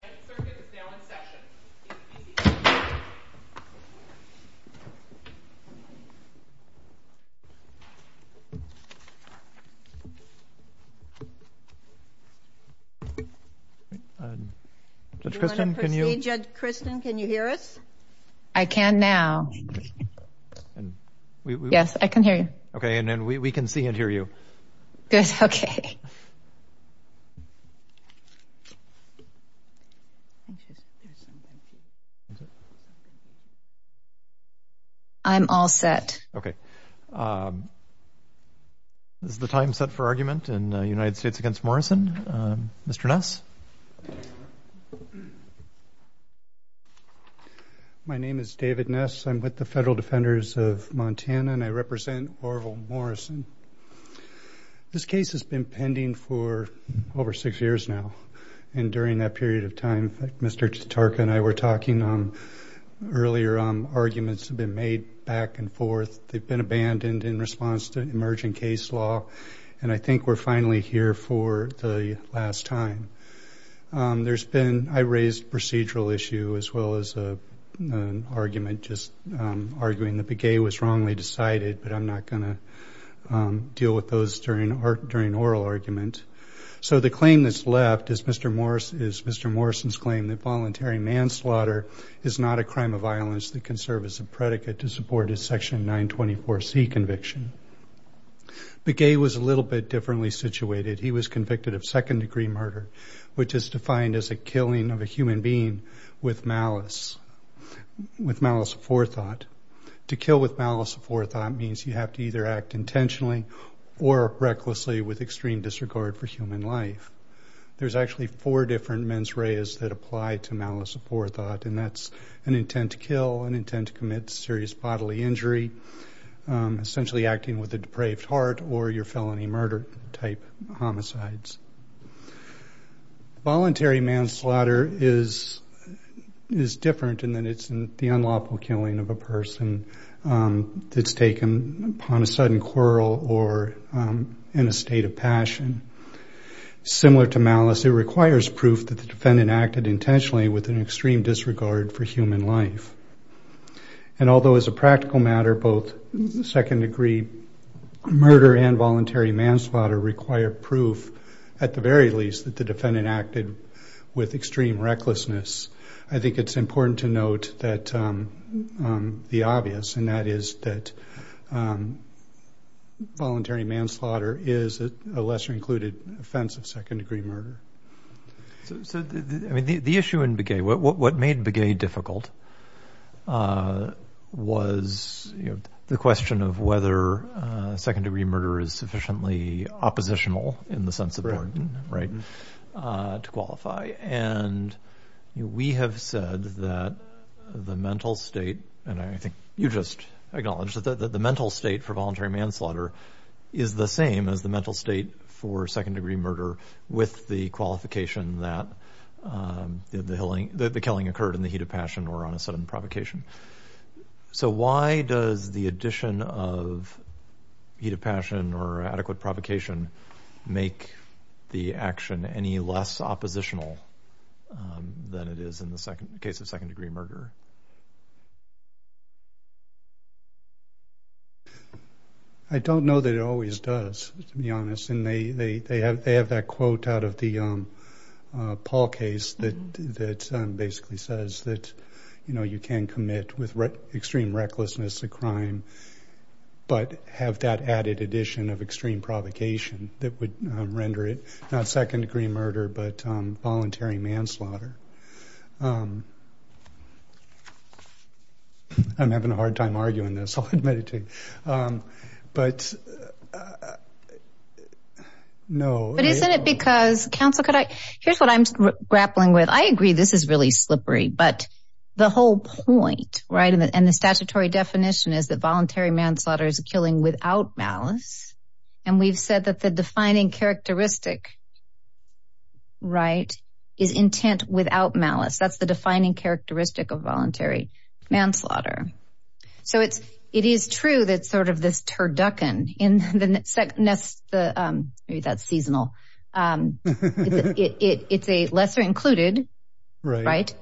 The circuit is now in session. Judge Kristen, can you hear us? I can now. Yes, I can hear you. Okay, and we can see and hear you. Good, okay. I'm all set. Okay. Is the time set for argument in United States v. Morrison? Mr. Ness? My name is David Ness. I'm with the Federal Defenders of Montana, and I represent Orville Morrison. This case has been pending for over six years now. And during that period of time, Mr. Tatarka and I were talking earlier, arguments have been made back and forth. They've been abandoned in response to emerging case law, and I think we're finally here for the last time. I raised a procedural issue as well as an argument, just arguing that Begay was wrongly decided, but I'm not going to deal with those during oral argument. So the claim that's left is Mr. Morrison's claim that voluntary manslaughter is not a crime of violence that can serve as a predicate to support his Section 924C conviction. Begay was a little bit differently situated. He was convicted of second-degree murder, which is defined as a killing of a human being with malice, with malice of forethought. To kill with malice of forethought means you have to either act intentionally or recklessly with extreme disregard for human life. There's actually four different mens reas that apply to malice of forethought, and that's an intent to kill, an intent to commit serious bodily injury, essentially acting with a depraved heart, or your felony murder-type homicides. Voluntary manslaughter is different in that it's the unlawful killing of a person that's taken upon a sudden quarrel or in a state of passion. Similar to malice, it requires proof that the defendant acted intentionally with an extreme disregard for human life. And although, as a practical matter, both second-degree murder and voluntary manslaughter require proof, at the very least, that the defendant acted with extreme recklessness, I think it's important to note the obvious, and that is that voluntary manslaughter is a lesser-included offense of second-degree murder. So the issue in Begay, what made Begay difficult, was the question of whether second-degree murder is sufficiently oppositional in the sense of pardon, right, to qualify. And we have said that the mental state, and I think you just acknowledged it, that the mental state for voluntary manslaughter is the same as the mental state for second-degree murder with the qualification that the killing occurred in the heat of passion or on a sudden provocation. So why does the addition of heat of passion or adequate provocation make the action any less oppositional than it is in the case of second-degree murder? I don't know that it always does, to be honest, and they have that quote out of the Paul case that basically says that, you know, you can commit with extreme recklessness a crime, but have that added addition of extreme provocation that would render it not second-degree murder, but voluntary manslaughter. I'm having a hard time arguing this, I'll admit it to you. But, no. But isn't it because, counsel, here's what I'm grappling with. I agree this is really slippery, but the whole point, right, and the statutory definition is that voluntary manslaughter is a killing without malice, and we've said that the defining characteristic, right, is intent without malice. That's the defining characteristic of voluntary manslaughter. So it is true that sort of this turducken, maybe that's seasonal, it's a lesser included, right,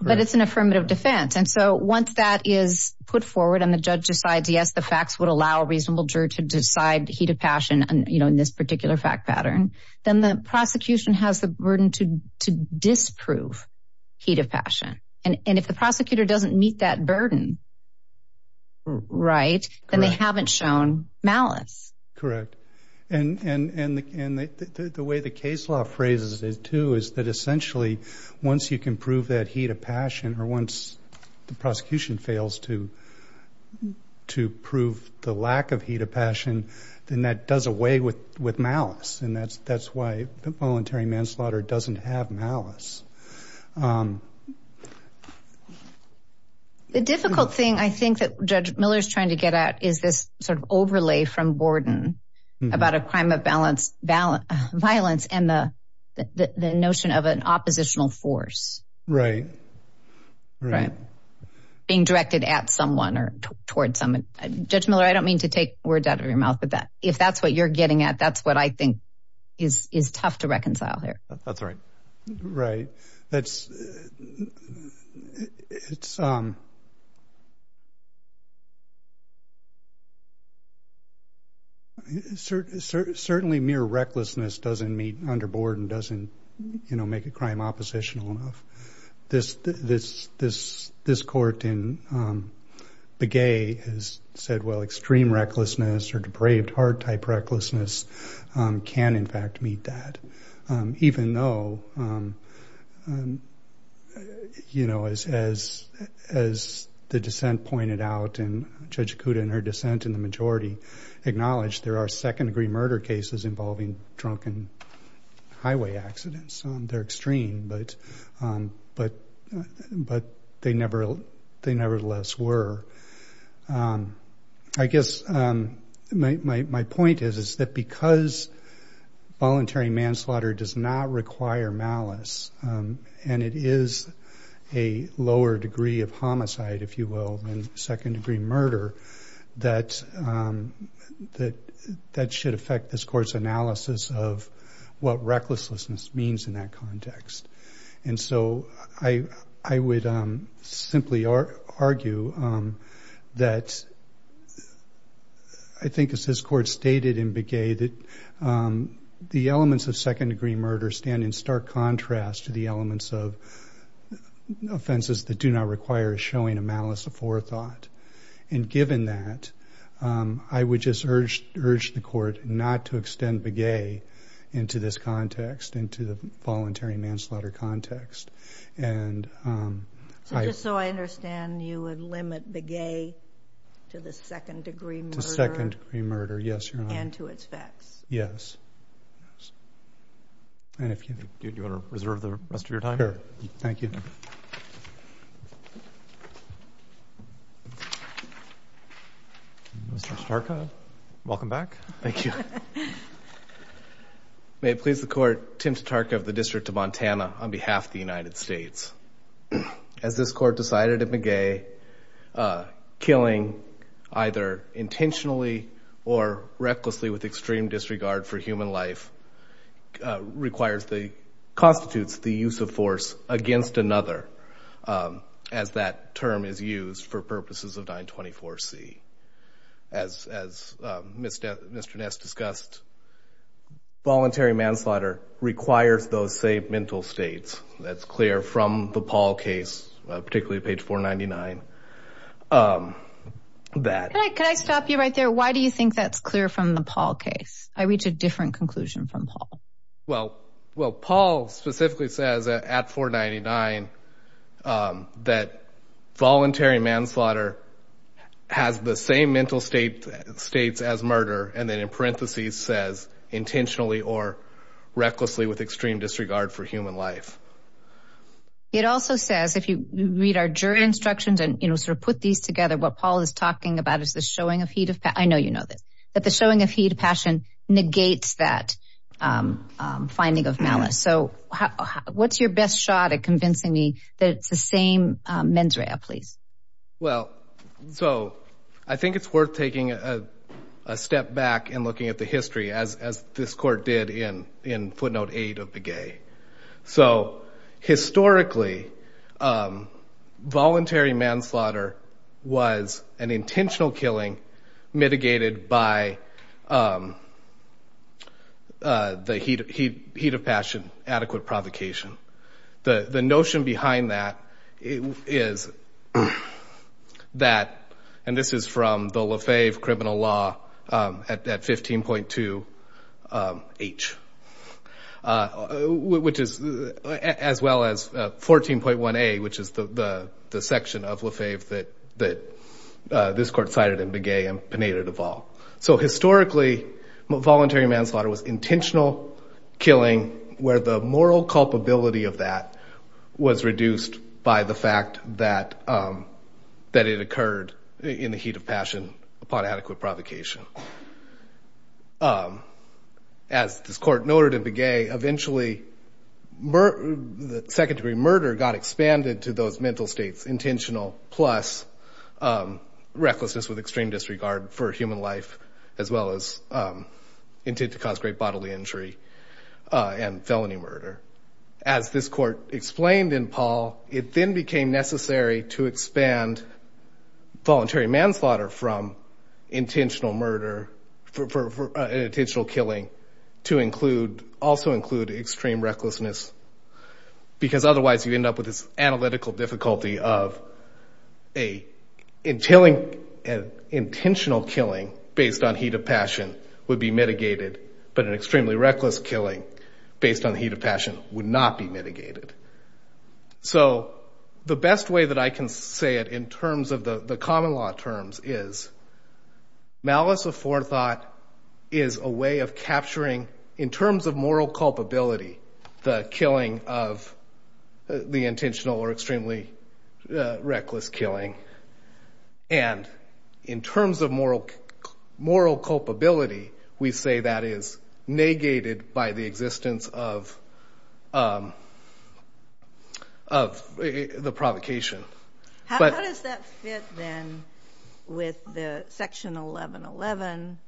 but it's an affirmative defense. And so once that is put forward and the judge decides, yes, the facts would allow a reasonable juror to decide heat of passion, you know, in this particular fact pattern, then the prosecution has the burden to disprove heat of passion. And if the prosecutor doesn't meet that burden, right, then they haven't shown malice. Correct. And the way the case law phrases it, too, is that essentially once you can prove that heat of passion then that does away with malice, and that's why voluntary manslaughter doesn't have malice. The difficult thing I think that Judge Miller is trying to get at is this sort of overlay from Borden about a crime of violence and the notion of an oppositional force. Right, right. Being directed at someone or toward someone. Judge Miller, I don't mean to take words out of your mouth, but if that's what you're getting at, that's what I think is tough to reconcile here. That's right. Right. Certainly mere recklessness doesn't meet under Borden, doesn't make a crime oppositional enough. This court in Begay has said, well, extreme recklessness or depraved heart-type recklessness can, in fact, meet that. Even though, you know, as the dissent pointed out, and Judge Acuda and her dissent in the majority acknowledged there are second-degree murder cases involving drunken highway accidents. They're extreme, but they nevertheless were. I guess my point is that because voluntary manslaughter does not require malice, and it is a lower degree of homicide, if you will, than second-degree murder, that that should affect this court's analysis of what recklessness means in that context. And so I would simply argue that I think, as this court stated in Begay, that the elements of second-degree murder stand in stark contrast to the elements of offenses that do not require showing a malice of forethought. And given that, I would just urge the court not to extend Begay into this context, into the voluntary manslaughter context. And I... So just so I understand, you would limit Begay to the second-degree murder? To second-degree murder, yes, Your Honor. And to its facts? Yes. And if you... Do you want to reserve the rest of your time? Sure. Thank you. Mr. Starka, welcome back. Thank you. May it please the court, Tim Starka of the District of Montana, on behalf of the United States. As this court decided at Begay, killing either intentionally or recklessly with extreme disregard for human life requires the... constitutes the use of force against another, as that term is used for purposes of 924C. As Mr. Ness discussed, voluntary manslaughter requires those same mental states. That's clear from the Paul case, particularly page 499. Can I stop you right there? Why do you think that's clear from the Paul case? I reach a different conclusion from Paul. Well, Paul specifically says at 499 that voluntary manslaughter has the same mental states as murder, and then in parentheses says intentionally or recklessly with extreme disregard for human life. It also says, if you read our jury instructions and sort of put these together, what Paul is talking about is the showing of heat of passion. I know you know this. That the showing of heat of passion negates that finding of malice. So what's your best shot at convincing me that it's the same mens rea, please? Well, so I think it's worth taking a step back and looking at the history, as this court did in footnote 8 of Begay. So historically, voluntary manslaughter was an intentional killing mitigated by the heat of passion adequate provocation. The notion behind that is that, and this is from the Lafave criminal law at 15.2h, as well as 14.1a, which is the section of Lafave that this court cited in Begay and Pineda Duvall. So historically, voluntary manslaughter was intentional killing where the moral culpability of that was reduced by the fact that it occurred in the heat of passion upon adequate provocation. As this court noted in Begay, eventually second-degree murder got expanded to those mental states, intentional plus recklessness with extreme disregard for human life, as well as intent to cause great bodily injury and felony murder. As this court explained in Paul, it then became necessary to expand voluntary manslaughter from intentional murder, intentional killing, to also include extreme recklessness because otherwise you'd end up with this analytical difficulty of an intentional killing based on heat of passion would be mitigated, but an extremely reckless killing based on heat of passion would not be mitigated. So the best way that I can say it in terms of the common law terms is malice of forethought is a way of capturing, in terms of moral culpability, the killing of the intentional or extremely reckless killing. And in terms of moral culpability, we say that is negated by the existence of the provocation. How does that fit, then, with the Section 1111,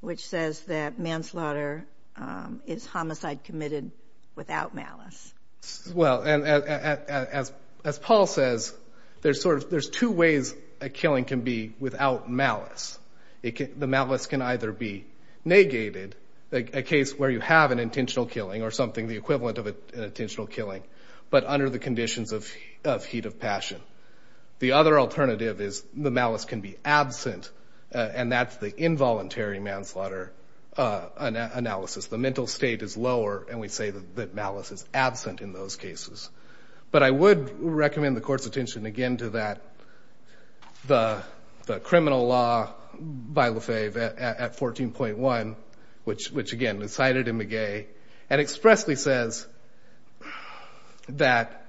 which says that manslaughter is homicide committed without malice? Well, as Paul says, there's two ways a killing can be without malice. The malice can either be negated, a case where you have an intentional killing or something the equivalent of an intentional killing, but under the conditions of heat of passion. The other alternative is the malice can be absent, and that's the involuntary manslaughter analysis. The mental state is lower, and we say that malice is absent in those cases. But I would recommend the Court's attention again to the criminal law by Lefebvre at 14.1, which, again, is cited in McGee and expressly says that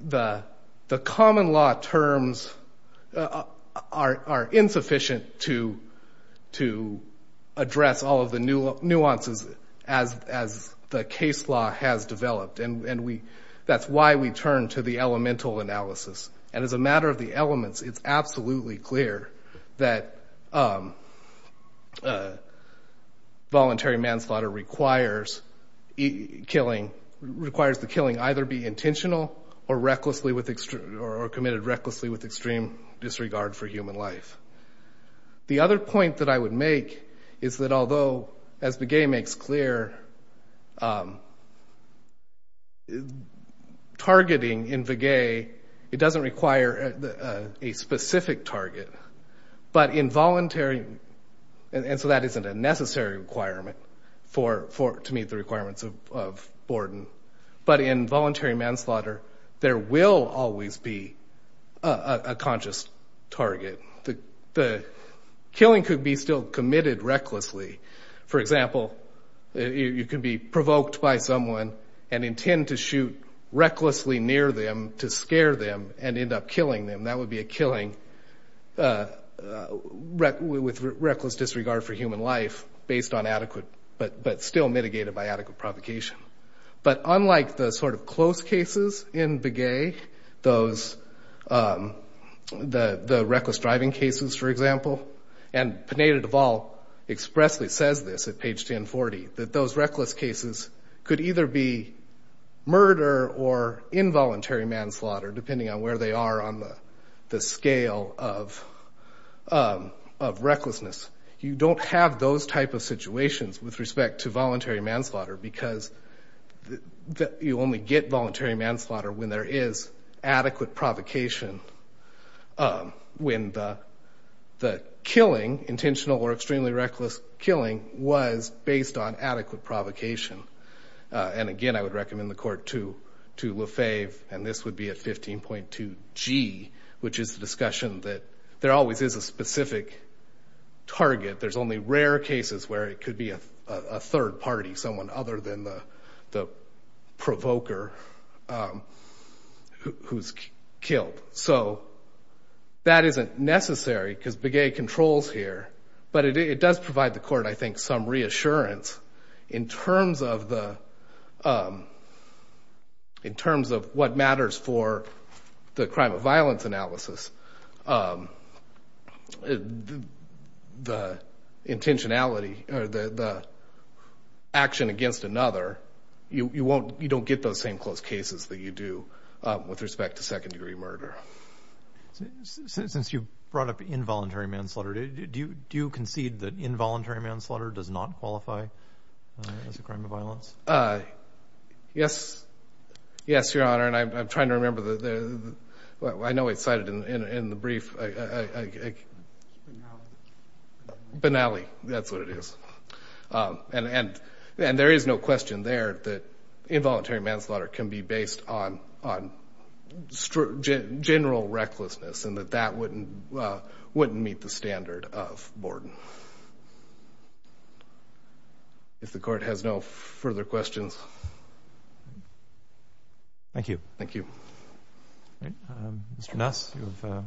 the common law terms are insufficient to address all of the nuances as the case law has developed, and that's why we turn to the elemental analysis. And as a matter of the elements, it's absolutely clear that voluntary manslaughter requires the killing either be intentional or committed recklessly with extreme disregard for human life. The other point that I would make is that although, as McGee makes clear, targeting in McGee, it doesn't require a specific target, but involuntary, and so that isn't a necessary requirement to meet the requirements of Borden, but in voluntary manslaughter, there will always be a conscious target. The killing could be still committed recklessly. For example, you could be provoked by someone and intend to shoot recklessly near them to scare them and end up killing them. That would be a killing with reckless disregard for human life based on adequate, but still mitigated by adequate provocation. But unlike the sort of close cases in McGee, the reckless driving cases, for example, and Pineda-Deval expressly says this at page 1040, that those reckless cases could either be murder or involuntary manslaughter depending on where they are on the scale of recklessness. You don't have those type of situations with respect to voluntary manslaughter because you only get voluntary manslaughter when there is adequate provocation when the killing, intentional or extremely reckless killing, was based on adequate provocation. And again, I would recommend the court to Lefebvre, and this would be at 15.2G, which is the discussion that there always is a specific target. There's only rare cases where it could be a third party, someone other than the provoker who's killed. So that isn't necessary because Begay controls here, but it does provide the court, I think, some reassurance in terms of what matters for the crime of violence analysis, the intentionality or the action against another. You don't get those same close cases that you do with respect to second-degree murder. Since you brought up involuntary manslaughter, do you concede that involuntary manslaughter does not qualify as a crime of violence? Yes, Your Honor, and I'm trying to remember the... I know it's cited in the brief. Benally, that's what it is. And there is no question there that involuntary manslaughter can be based on general recklessness and that that wouldn't meet the standard of Borden. If the court has no further questions. Thank you. Thank you. Mr. Nass, you have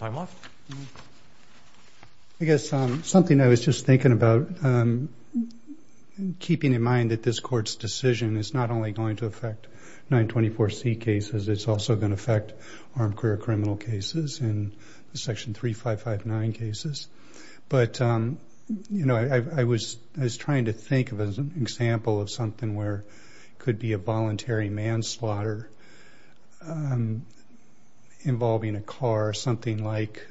time left. I guess something I was just thinking about, keeping in mind that this Court's decision is not only going to affect 924C cases, it's also going to affect armed career criminal cases and Section 3559 cases. But, you know, I was trying to think of an example of something where it could be a voluntary manslaughter involving a car, something like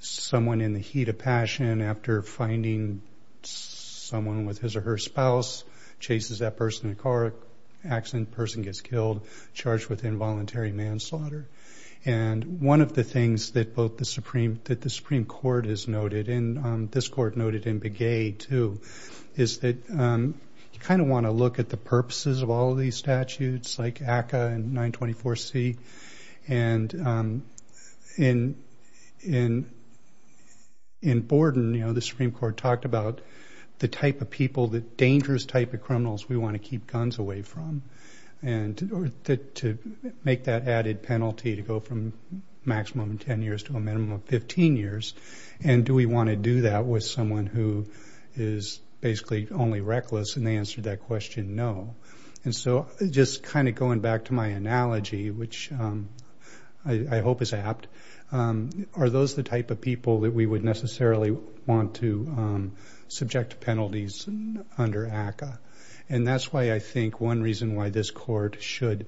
someone in the heat of passion after finding someone with his or her spouse chases that person in a car accident, person gets killed, charged with involuntary manslaughter. And one of the things that both the Supreme... that the Supreme Court has noted, and this Court noted in Begay too, is that you kind of want to look at the purposes of all of these statutes like ACCA and 924C. And in Borden, you know, the Supreme Court talked about the type of people, the dangerous type of criminals we want to keep guns away from to make that added penalty to go from maximum 10 years to a minimum of 15 years. And do we want to do that with someone who is basically only reckless? And they answered that question, no. And so just kind of going back to my analogy, which I hope is apt, are those the type of people that we would necessarily want to subject to penalties under ACCA? And that's why I think one reason why this Court should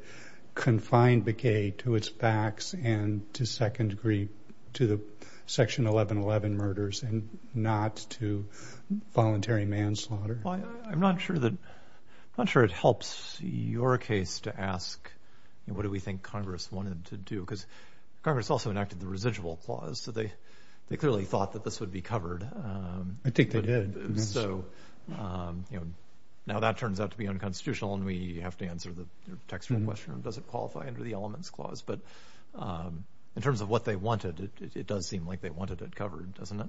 confine Begay to its facts and to second degree to the Section 1111 murders and not to voluntary manslaughter. Well, I'm not sure that... I'm not sure it helps your case to ask, you know, what do we think Congress wanted to do? Because Congress also enacted the residual clause, so they clearly thought that this would be covered. I think they did. So, you know, now that turns out to be unconstitutional and we have to answer the textual question of does it qualify under the elements clause. But in terms of what they wanted, it does seem like they wanted it covered, doesn't it?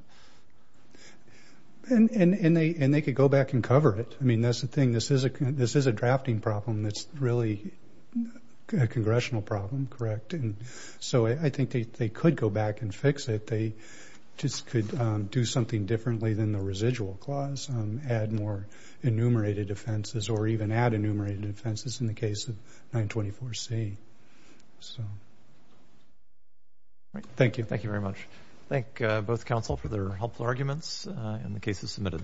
And they could go back and cover it. I mean, that's the thing. This is a drafting problem that's really a congressional problem, correct? And so I think they could go back and fix it. They just could do something differently than the residual clause, add more enumerated offenses or even add enumerated offenses in the case of 924C. So... All right. Thank you. Thank you very much. Thank both counsel for their helpful arguments and the cases submitted. All rise.